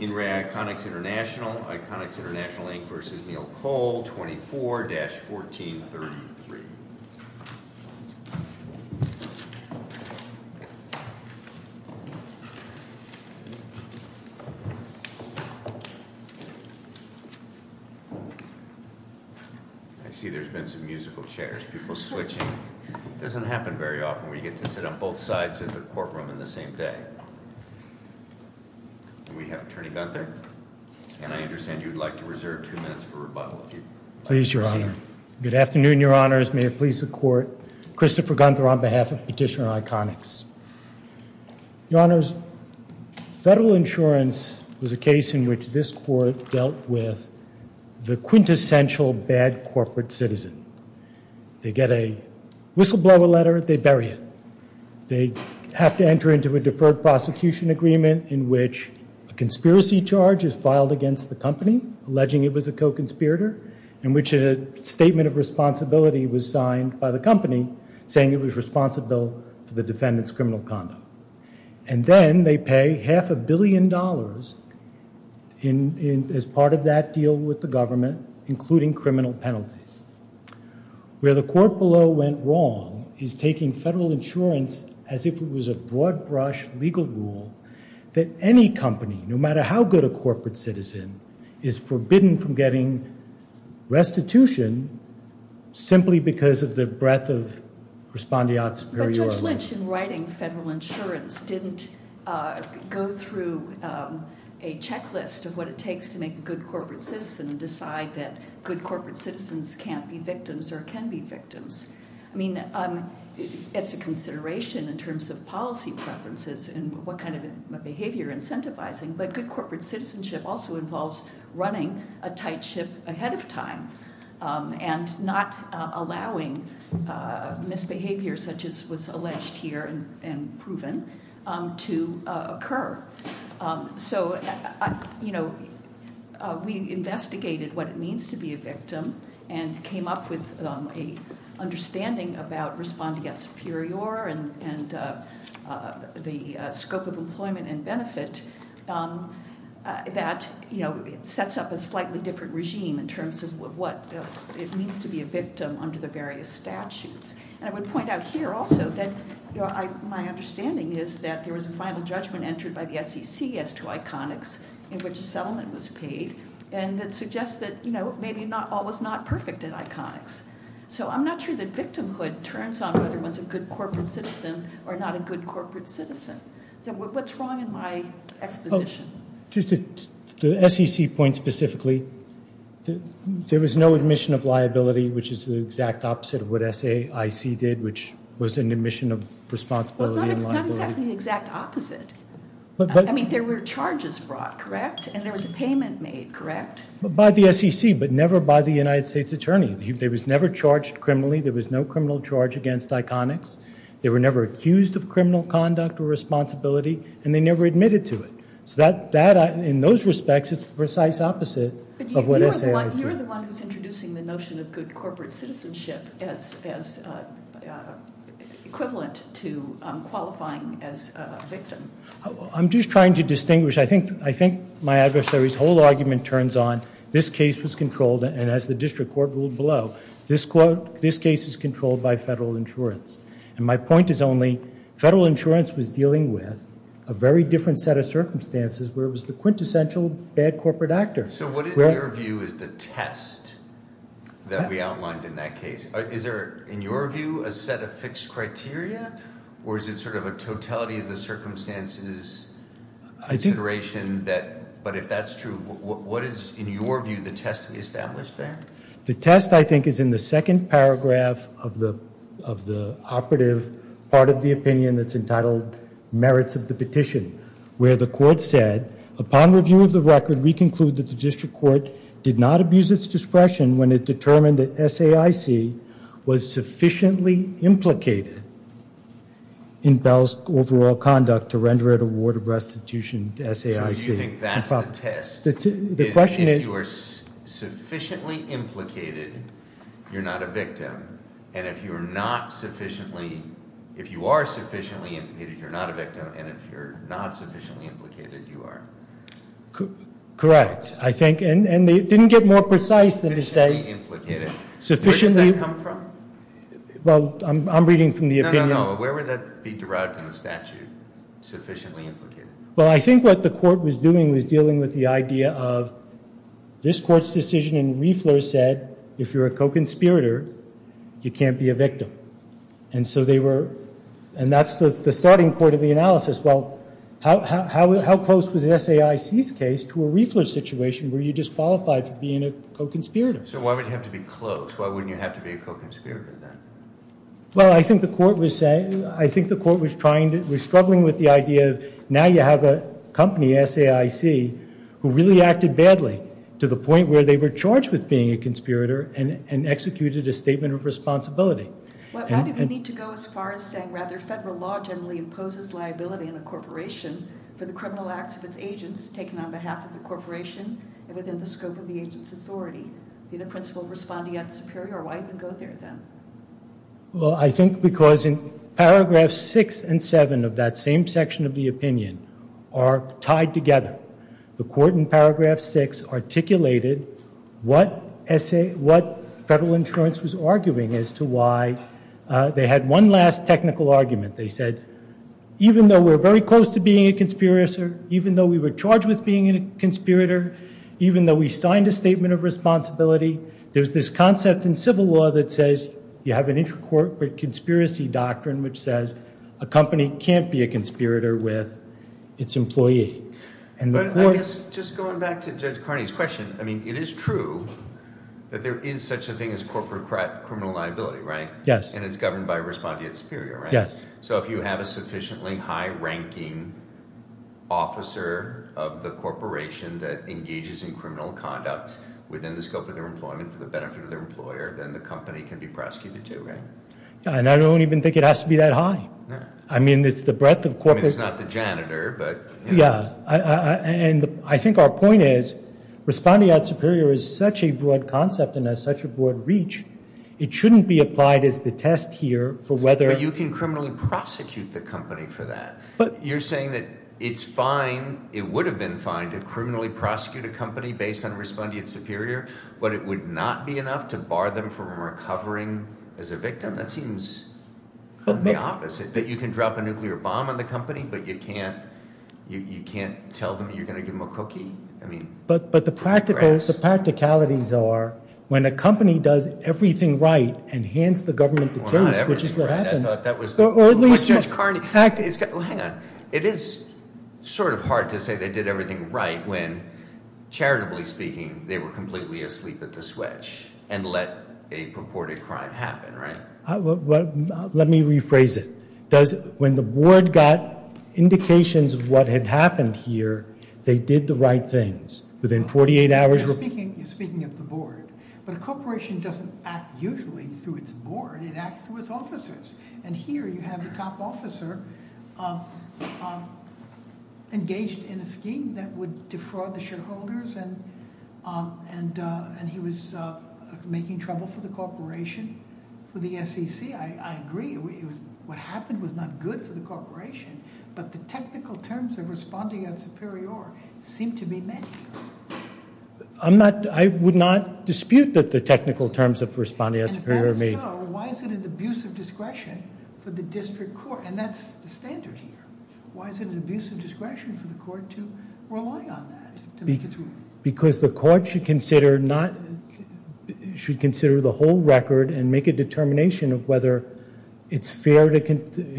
In re Iconix International, Iconix International Inc. versus Neil Cole, 24-1433. I see there's been some musical chairs, people switching. Doesn't happen very often where you get to sit on both sides of the courtroom in the same day. And we have Attorney Gunther. And I understand you'd like to reserve two minutes for rebuttal. Please, Your Honor. Good afternoon, Your Honors. May it please the court. Christopher Gunther on behalf of Petitioner Iconix. Your Honors, federal insurance was a case in which this court dealt with the quintessential bad corporate citizen. They get a whistleblower letter, they bury it. They have to enter into a deferred prosecution agreement in which a conspiracy charge is filed against the company, alleging it was a co-conspirator, in which a statement of responsibility was signed by the company, saying it was responsible for the defendant's criminal conduct. And then they pay half a billion dollars as part of that deal with the government, including criminal penalties. Where the court below went wrong is taking federal insurance as if it was a broad-brush legal rule that any company, no matter how good a corporate citizen, is forbidden from getting restitution simply because of the breadth of respondeat superiority. But Judge Lynch, in writing federal insurance, didn't go through a checklist of what it takes to make a good corporate citizen and decide that good corporate citizens can't be victims or can be victims. I mean, it's a consideration in terms of policy preferences and what kind of behavior incentivizing, but good corporate citizenship also involves running a tight ship ahead of time and not allowing misbehavior such as was alleged here and proven to occur. So, you know, we investigated what it means to be a victim and came up with an understanding about respondeat superior and the scope of employment and benefit that, you know, sets up a slightly different regime in terms of what it means to be a victim under the various statutes. And I would point out here also that my understanding is that there was a final judgment entered by the SEC as to iconics in which a settlement was paid. And that suggests that, you know, maybe all was not perfect in iconics. So I'm not sure that victimhood turns on whether one's a good corporate citizen or not a good corporate citizen. So what's wrong in my exposition? To the SEC point specifically, there was no admission of liability, which is the exact opposite of what SAIC did, which was an admission of responsibility and liability. It's not exactly the exact opposite. I mean, there were charges brought, correct? And there was a payment made, correct? By the SEC, but never by the United States Attorney. They was never charged criminally. There was no criminal charge against iconics. They were never accused of criminal conduct or responsibility and they never admitted to it. So that, in those respects, it's the precise opposite of what SAIC. You're the one who's introducing the notion of good corporate citizenship as equivalent to qualifying as a victim. I'm just trying to distinguish. I think my adversary's whole argument turns on, this case was controlled and as the district court ruled below, this case is controlled by federal insurance. And my point is only, federal insurance was dealing with a very different set of circumstances where it was the quintessential bad corporate actor. So what in your view is the test that we outlined in that case? Is there, in your view, a set of fixed criteria or is it sort of a totality of the circumstances consideration that, but if that's true, what is, in your view, the test to be established there? The test, I think, is in the second paragraph of the operative part of the opinion that's entitled, Merits of the Petition, where the court said, upon review of the record, we conclude that the district court did not abuse its discretion when it determined that SAIC was sufficiently implicated in Bell's overall conduct to render it a ward of restitution to SAIC. So you think that's the test? The question is. If you are sufficiently implicated, you're not a victim. And if you are not sufficiently, if you are sufficiently implicated, you're not a victim. And if you're not sufficiently implicated, you are. Correct. I think, and they didn't get more precise than to say. Sufficiently implicated. Where does that come from? Well, I'm reading from the opinion. No, no, no. Where would that be derived in the statute, sufficiently implicated? Well, I think what the court was doing was dealing with the idea of this court's decision in Riefler said, if you're a co-conspirator, you can't be a victim. And so they were, and that's the starting point of the analysis. Well, how close was SAIC's case to a Riefler situation where you disqualified for being a co-conspirator? So why would you have to be close? Why wouldn't you have to be a co-conspirator then? Well, I think the court was saying, I think the court was trying to, was struggling with the idea of now you have a company, SAIC, who really acted badly to the point where they were charged with being a conspirator and executed a statement of responsibility. Well, how did we need to go as far as saying, rather, federal law generally imposes liability in a corporation for the criminal acts of its agents taken on behalf of the corporation and within the scope of the agent's authority? Be the principle of responding at the superior or why even go there then? Well, I think because in paragraph six and seven of that same section of the opinion are tied together. The court in paragraph six articulated what SAIC, what federal insurance was arguing as to why they had one last technical argument. They said, even though we're very close to being a conspirator, even though we were charged with being a conspirator, even though we signed a statement of responsibility, there's this concept in civil law that says you have an intracorporate conspiracy doctrine which says a company can't be a conspirator with its employee. And the court- Just going back to Judge Carney's question, I mean, it is true that there is such a thing as corporate criminal liability, right? Yes. And it's governed by responding at superior, right? Yes. So if you have a sufficiently high-ranking officer of the corporation that engages in criminal conduct within the scope of their employment for the benefit of their employer, then the company can be prosecuted too, right? And I don't even think it has to be that high. I mean, it's the breadth of corporate- I mean, it's not the janitor, but- Yeah, and I think our point is responding at superior is such a broad concept and has such a broad reach, it shouldn't be applied as the test here for whether- But you can criminally prosecute the company for that. You're saying that it's fine, it would have been fine to criminally prosecute a company based on responding at superior, but it would not be enough to bar them from recovering as a victim? That seems the opposite, that you can drop a nuclear bomb on the company, but you can't tell them you're gonna give them a cookie. I mean- But the practicalities are, when a company does everything right and hands the government the case, which is what happened- I thought that was the- Or at least- Well, hang on. It is sort of hard to say they did everything right when, charitably speaking, they were completely asleep at the switch and let a purported crime happen, right? Let me rephrase it. When the board got indications of what had happened here, they did the right things. Within 48 hours- You're speaking of the board, but a corporation doesn't act usually through its board, it acts through its officers. And here you have the top officer engaged in a scheme that would defraud the shareholders, and he was making trouble for the corporation, for the SEC. I agree, what happened was not good for the corporation, but the technical terms of responding at superior seem to be met. I would not dispute that the technical terms of responding at superior may- And if that is so, why is it an abuse of discretion for the district court? And that's the standard here. Why is it an abuse of discretion for the court to rely on that to make its ruling? Because the court should consider the whole record and make a determination of whether it's fair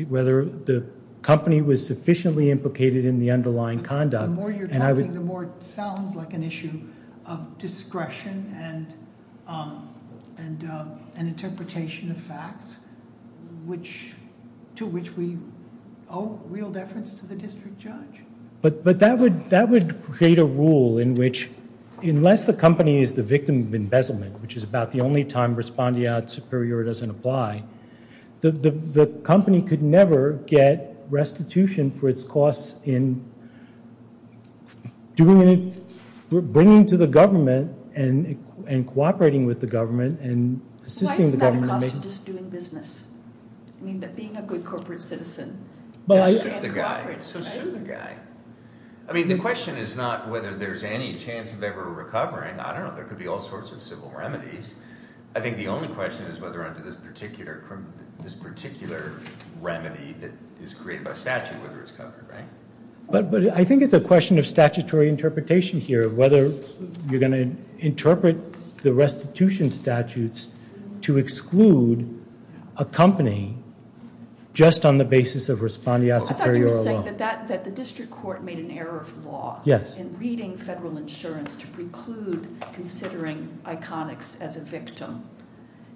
whether the company was sufficiently implicated in the underlying conduct. The more you're talking, the more it sounds like an issue of discretion and an interpretation of facts to which we owe real deference to the district judge. But that would create a rule in which, unless the company is the victim of embezzlement, which is about the only time responding at superior doesn't apply, the company could never get restitution for its costs in bringing to the government and cooperating with the government and assisting the government- Why isn't that a cost of just doing business? I mean, that being a good corporate citizen. But I- So should the guy. I mean, the question is not whether there's any chance of ever recovering. I don't know, there could be all sorts of civil remedies. I think the only question is whether under this particular remedy that is created by statute, whether it's covered, right? But I think it's a question of statutory interpretation here, whether you're gonna interpret the restitution statutes to exclude a company just on the basis of responding at superior alone. I thought you were saying that the district court made an error of law. In reading federal insurance to preclude considering Iconics as a victim.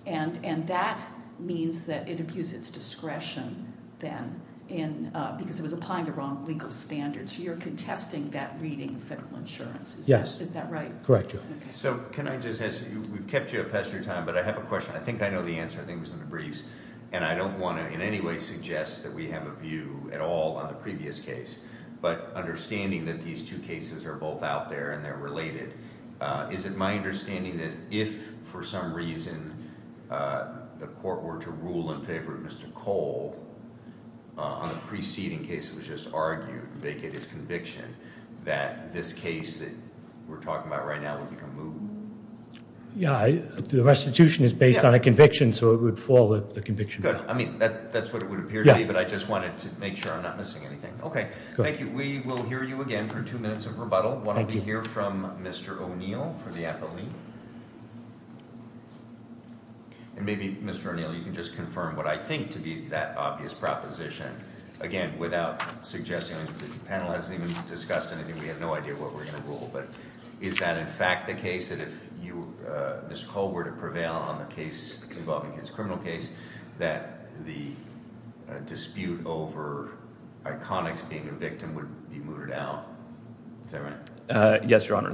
And that means that it abused its discretion then because it was applying the wrong legal standards. You're contesting that reading federal insurance. Yes. Is that right? Correct you. So can I just ask you, we've kept you up past your time, but I have a question. I think I know the answer. I think it was in the briefs. And I don't wanna in any way suggest that we have a view at all on the previous case. But understanding that these two cases are both out there and they're related, is it my understanding that if for some reason the court were to rule in favor of Mr. Cole on the preceding case that was just argued, they get his conviction, that this case that we're talking about right now would become moot? Yeah, the restitution is based on a conviction, so it would fall the conviction. Good, I mean, that's what it would appear to be, but I just wanted to make sure I'm not missing anything. Okay, thank you. We will hear you again for two minutes of rebuttal. Thank you. I wanna hear from Mr. O'Neill for the appellee. And maybe Mr. O'Neill, you can just confirm what I think to be that obvious proposition. Again, without suggesting that the panel hasn't even discussed anything, we have no idea what we're gonna rule, but is that in fact the case that if you, Mr. Cole were to prevail on the case involving his criminal case, that the dispute over Iconix being a victim would be mooted out? Is that right? Yes, Your Honor,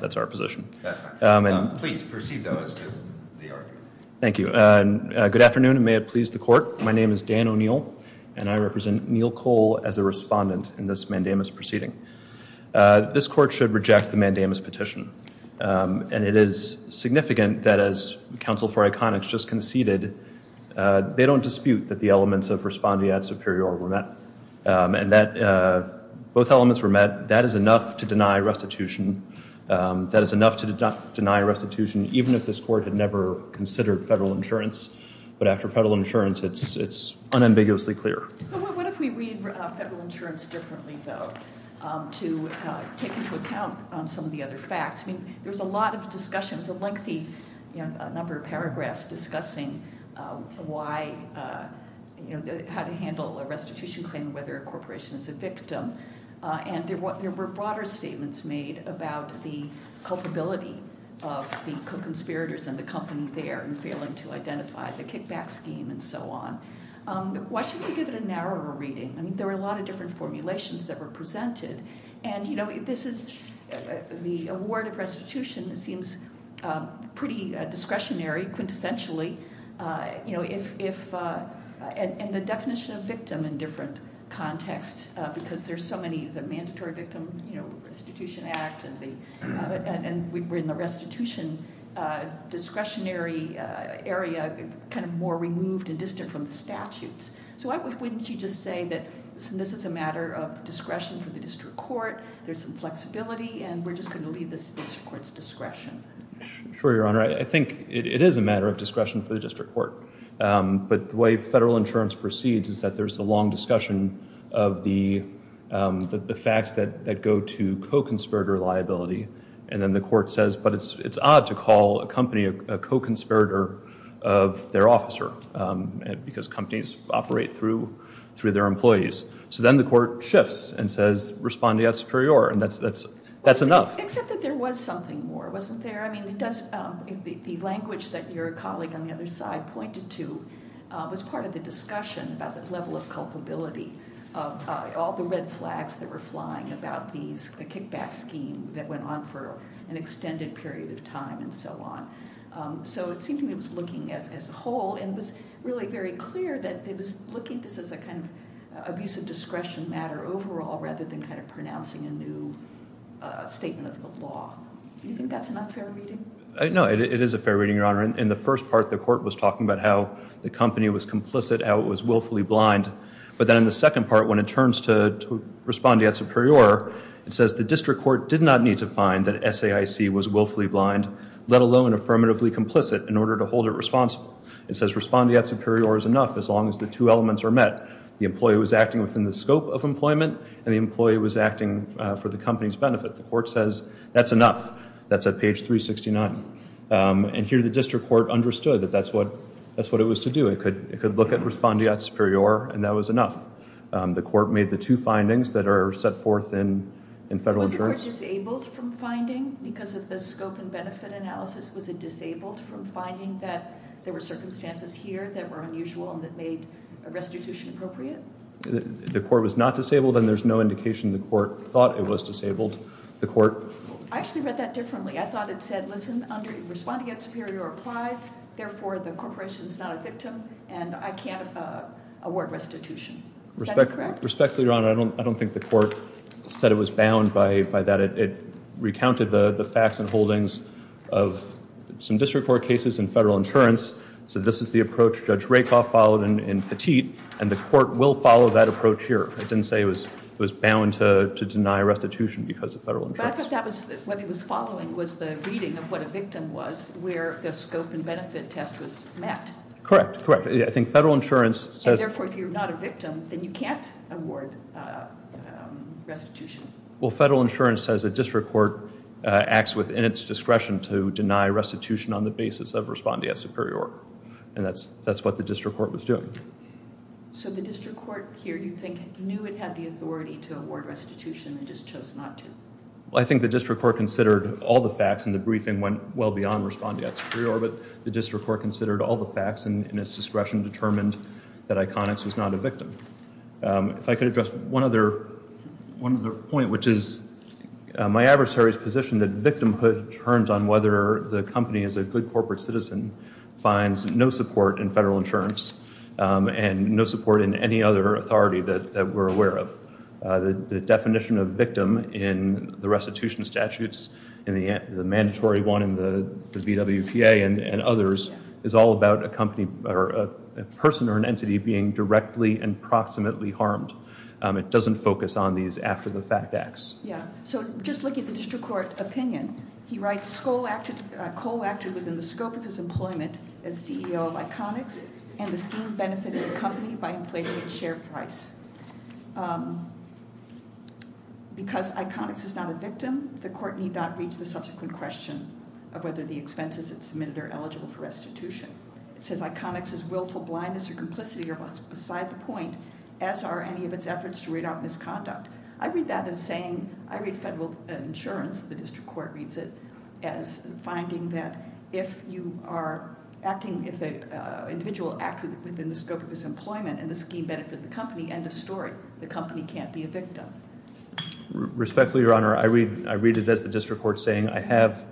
that's our position. That's fine. Please proceed, though, as to the argument. Thank you. Good afternoon, and may it please the Court. My name is Dan O'Neill, and I represent Neil Cole as a respondent in this mandamus proceeding. This Court should reject the mandamus petition, and it is significant that as counsel for Iconix just conceded, they don't dispute that the elements of respondeat superior were met, and that both elements were met. That is enough to deny restitution. That is enough to deny restitution, even if this Court had never considered federal insurance, but after federal insurance, it's unambiguously clear. What if we read federal insurance differently, though, to take into account some of the other facts? I mean, there's a lot of discussions, a lengthy number of paragraphs discussing how to handle a restitution claim, and whether a corporation is a victim, and there were broader statements made about the culpability of the co-conspirators and the company there in failing to identify the kickback scheme and so on. Why shouldn't we give it a narrower reading? I mean, there were a lot of different formulations that were presented, and this is, the award of restitution seems pretty discretionary, quintessentially, and the definition of victim in different contexts, because there's so many, the Mandatory Victim Restitution Act, and we're in the restitution discretionary area, kind of more removed and distant from the statutes. So why wouldn't you just say that this is a matter of discretion for the District Court, there's some flexibility, and we're just gonna leave this to the District Court's discretion? Sure, Your Honor, I think it is a matter of discretion for the District Court, but the way federal insurance proceeds is that there's a long discussion of the facts that go to co-conspirator liability, and then the Court says, but it's odd to call a company a co-conspirator of their officer, because companies operate through their employees. So then the Court shifts and says, respondeat superior, and that's enough. Except that there was something more, wasn't there? I mean, it does, the language that your colleague on the other side pointed to was part of the discussion about the level of culpability of all the red flags that were flying about these, a kickback scheme that went on for an extended period of time, and so on. So it seemed to me it was looking as a whole, and it was really very clear that it was looking at this as a kind of abuse of discretion matter overall, rather than kind of pronouncing a new statement of the law. You think that's not fair reading? No, it is a fair reading, Your Honor. In the first part, the Court was talking about how the company was complicit, how it was willfully blind, but then in the second part, when it turns to respondeat superior, it says the District Court did not need to find that SAIC was willfully blind, let alone affirmatively complicit, in order to hold it responsible. It says respondeat superior is enough, as long as the two elements are met. The employee was acting within the scope of employment, and the employee was acting for the company's benefit. The Court says, that's enough, that's at page 369. And here the District Court understood that that's what it was to do. It could look at respondeat superior, and that was enough. The Court made the two findings that are set forth in federal jurisdiction. Was the Court disabled from finding, because of the scope and benefit analysis, was it disabled from finding that there were circumstances here that were unusual and that made a restitution appropriate? The Court was not disabled, and there's no indication the Court thought it was disabled. The Court... I actually read that differently. I thought it said, listen, under respondeat superior applies, therefore the corporation's not a victim, and I can't award restitution. Is that correct? Respectfully, Your Honor, I don't think the Court said it was bound by that. It recounted the facts and holdings of some District Court cases in federal insurance. So this is the approach Judge Rakoff followed in Petit, and the Court will follow that approach here. It didn't say it was bound to deny restitution because of federal insurance. But I think what it was following was the reading of what a victim was, where the scope and benefit test was met. Correct, correct. I think federal insurance says... And therefore, if you're not a victim, then you can't award restitution. Well, federal insurance says a District Court acts within its discretion to deny restitution on the basis of respondeat superior, and that's what the District Court was doing. So the District Court here, do you think, knew it had the authority to award restitution and just chose not to? Well, I think the District Court considered all the facts and the briefing went well beyond respondeat superior, but the District Court considered all the facts and in its discretion determined that Iconics was not a victim. If I could address one other point, which is my adversary's position that victimhood turns on whether the company is a good corporate citizen finds no support in federal insurance and no support in any other authority that we're aware of. The definition of victim in the restitution statutes and the mandatory one in the VWPA and others is all about a company or a person or an entity being directly and proximately harmed. It doesn't focus on these after-the-fact acts. Yeah, so just looking at the District Court opinion, he writes, co-acted within the scope of his employment as CEO of Iconics and the scheme benefited the company by inflating its share price. Because Iconics is not a victim, the court need not reach the subsequent question of whether the expenses it submitted are eligible for restitution. It says Iconics' willful blindness or complicity are beside the point, as are any of its efforts to read out misconduct. I read that as saying, I read federal insurance, the District Court reads it, as finding that if you are acting, if an individual acted within the scope of his employment and the scheme benefited the company, end of story. The company can't be a victim. Respectfully, Your Honor, I read it as the District Court saying, I have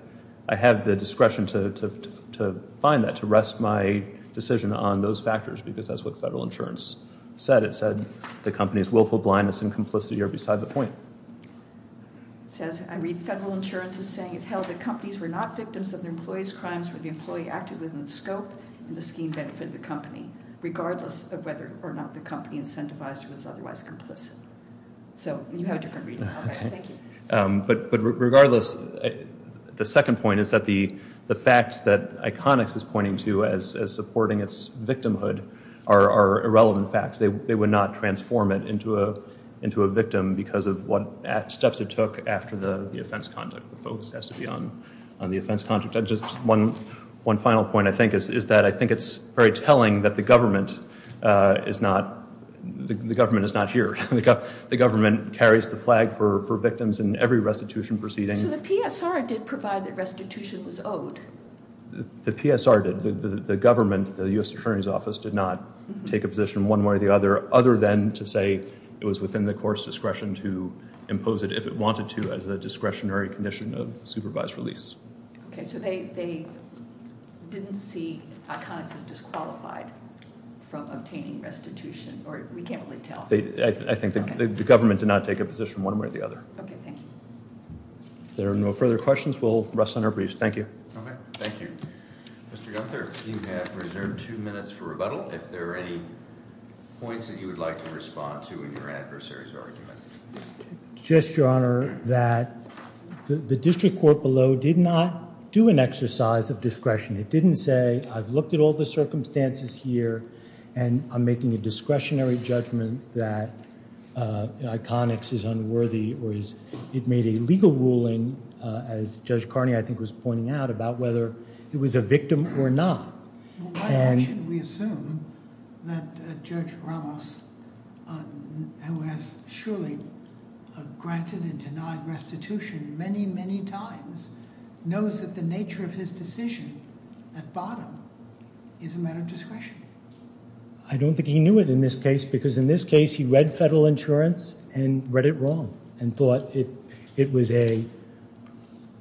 the discretion to find that, to rest my decision on those factors because that's what federal insurance said. It said the company's willful blindness and complicity are beside the point. It says, I read federal insurance as saying, it held that companies were not victims of their employees' crimes when the employee acted within the scope and the scheme benefited the company, regardless of whether or not the company incentivized or was otherwise complicit. So you have a different reading. Okay, thank you. But regardless, the second point is that the facts that Iconics is pointing to as supporting its victimhood are irrelevant facts. They would not transform it into a victim because of what steps it took after the offense conduct. The focus has to be on the offense conduct. Just one final point, I think, is that I think it's very telling that the government is not, the government is not here. The government carries the flag for victims in every restitution proceeding. So the PSR did provide that restitution was owed. The PSR did. The government, the U.S. Attorney's Office, did not take a position one way or the other other than to say it was within the court's discretion to impose it if it wanted to as a discretionary condition of supervised release. Okay, so they didn't see Iconics as disqualified from obtaining restitution, or we can't really tell. I think the government did not take a position one way or the other. Okay, thank you. There are no further questions. We'll rest on our briefs. Thank you. Okay, thank you. Mr. Gunther, you have reserved two minutes for rebuttal. If there are any points that you would like to respond to in your adversary's argument. Just, Your Honor, that the district court below did not do an exercise of discretion. It didn't say, I've looked at all the circumstances here and I'm making a discretionary judgment that Iconics is unworthy or it made a legal ruling, as Judge Carney, I think, was pointing out about whether it was a victim or not. Well, why shouldn't we assume that Judge Ramos, who has surely granted and denied restitution many, many times, knows that the nature of his decision at bottom is a matter of discretion? I don't think he knew it in this case because in this case, he read federal insurance and read it wrong and thought it was a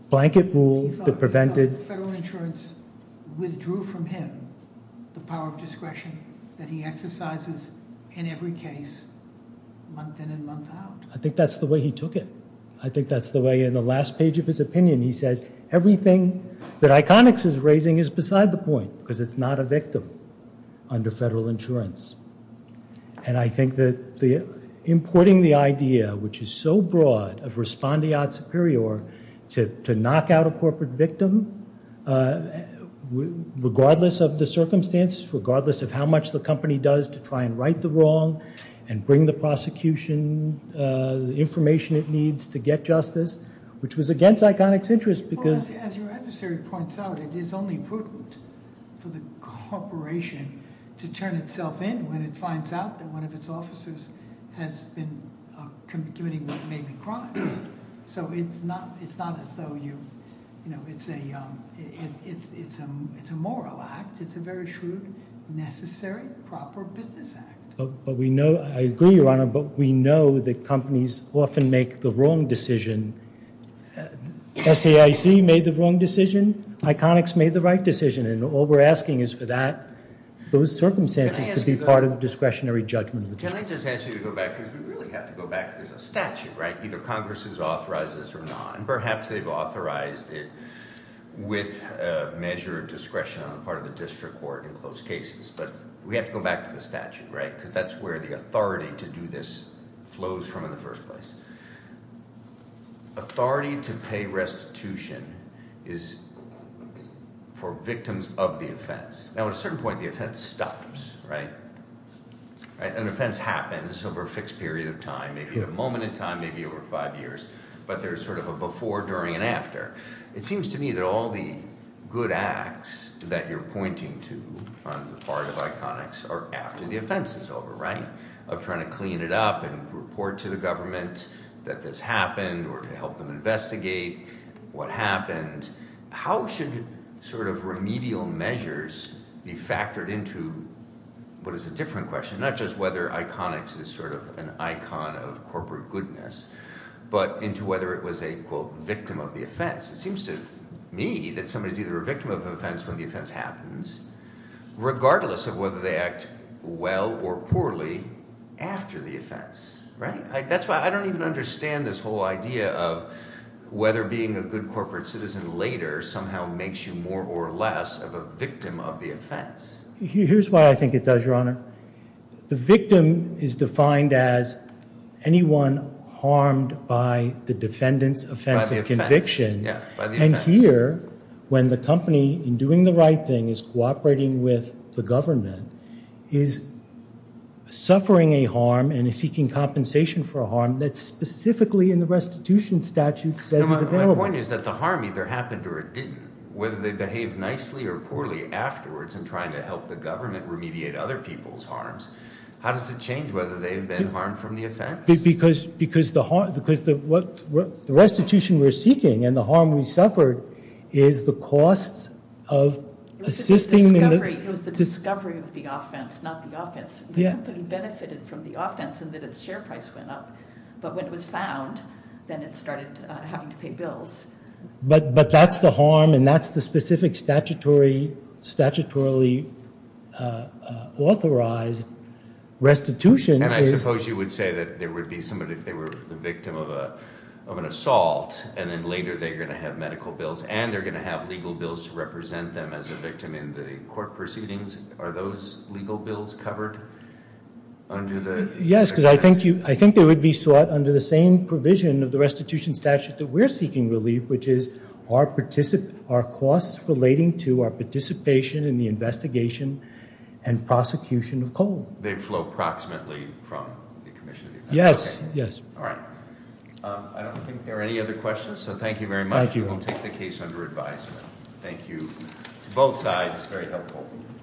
blanket rule that prevented- He thought federal insurance withdrew from him the power of discretion that he exercises in every case month in and month out. I think that's the way he took it. I think that's the way, in the last page of his opinion, he says everything that Iconics is raising is beside the point because it's not a victim under federal insurance. And I think that importing the idea, which is so broad, of respondeat superior to knock out a corporate victim, regardless of the circumstances, regardless of how much the company does to try and right the wrong and bring the prosecution the information it needs to get justice, which was against Iconics' interest because- As your adversary points out, it is only prudent for the corporation to turn itself in when it finds out that one of its officers has been committing what may be crimes. So it's not as though you, it's a moral act. It's a very shrewd, necessary, proper business act. But we know, I agree, Your Honor, but we know that companies often make the wrong decision. SAIC made the wrong decision. Iconics made the right decision. And all we're asking is for that, those circumstances to be part of the discretionary judgment of the district. Can I just ask you to go back? Because we really have to go back to the statute, right? Either Congress has authorized this or not. And perhaps they've authorized it with a measure of discretion on the part of the district court in closed cases. But we have to go back to the statute, right? Because that's where the authority to do this flows from in the first place. Authority to pay restitution is for victims of the offense. Now, at a certain point, the offense stops, right? An offense happens over a fixed period of time. Maybe a moment in time, maybe over five years. But there's sort of a before, during, and after. It seems to me that all the good acts that you're pointing to on the part of Iconics are after the offense is over, right? Of trying to clean it up and report to the government that this happened or to help them investigate what happened. How should sort of remedial measures be factored into what is a different question? Not just whether Iconics is sort of an icon of corporate goodness, but into whether it was a quote, victim of the offense. It seems to me that somebody is either a victim of an offense when the offense happens, regardless of whether they act well or poorly after the offense, right? That's why I don't even understand this whole idea of whether being a good corporate citizen later somehow makes you more or less of a victim of the offense. Here's why I think it does, Your Honor. The victim is defined as anyone harmed by the defendant's offense of conviction. Yeah, by the offense. And here, when the company in doing the right thing is cooperating with the government, is suffering a harm and seeking compensation for a harm that's specifically in the restitution statute says is available. My point is that the harm either happened or it didn't. Whether they behaved nicely or poorly afterwards in trying to help the government remediate other people's harms, how does it change whether they've been harmed from the offense? Because the restitution we're seeking and the harm we suffered is the cost of assisting in the- It was the discovery of the offense, not the offense. The company benefited from the offense in that its share price went up. But when it was found, then it started having to pay bills. But that's the harm and that's the specific statutorily authorized restitution is- And I suppose you would say that there would be somebody if they were the victim of an assault and then later they're gonna have medical bills and they're gonna have legal bills to represent them as a victim in the court proceedings. Are those legal bills covered under the- Yes, because I think they would be sought under the same provision of the restitution statute that we're seeking relief, which is our costs relating to our participation in the investigation and prosecution of coal. They flow approximately from the commission. Yes, yes. All right. I don't think there are any other questions, so thank you very much. Thank you. We'll take the case under advisement. Thank you to both sides. Very helpful.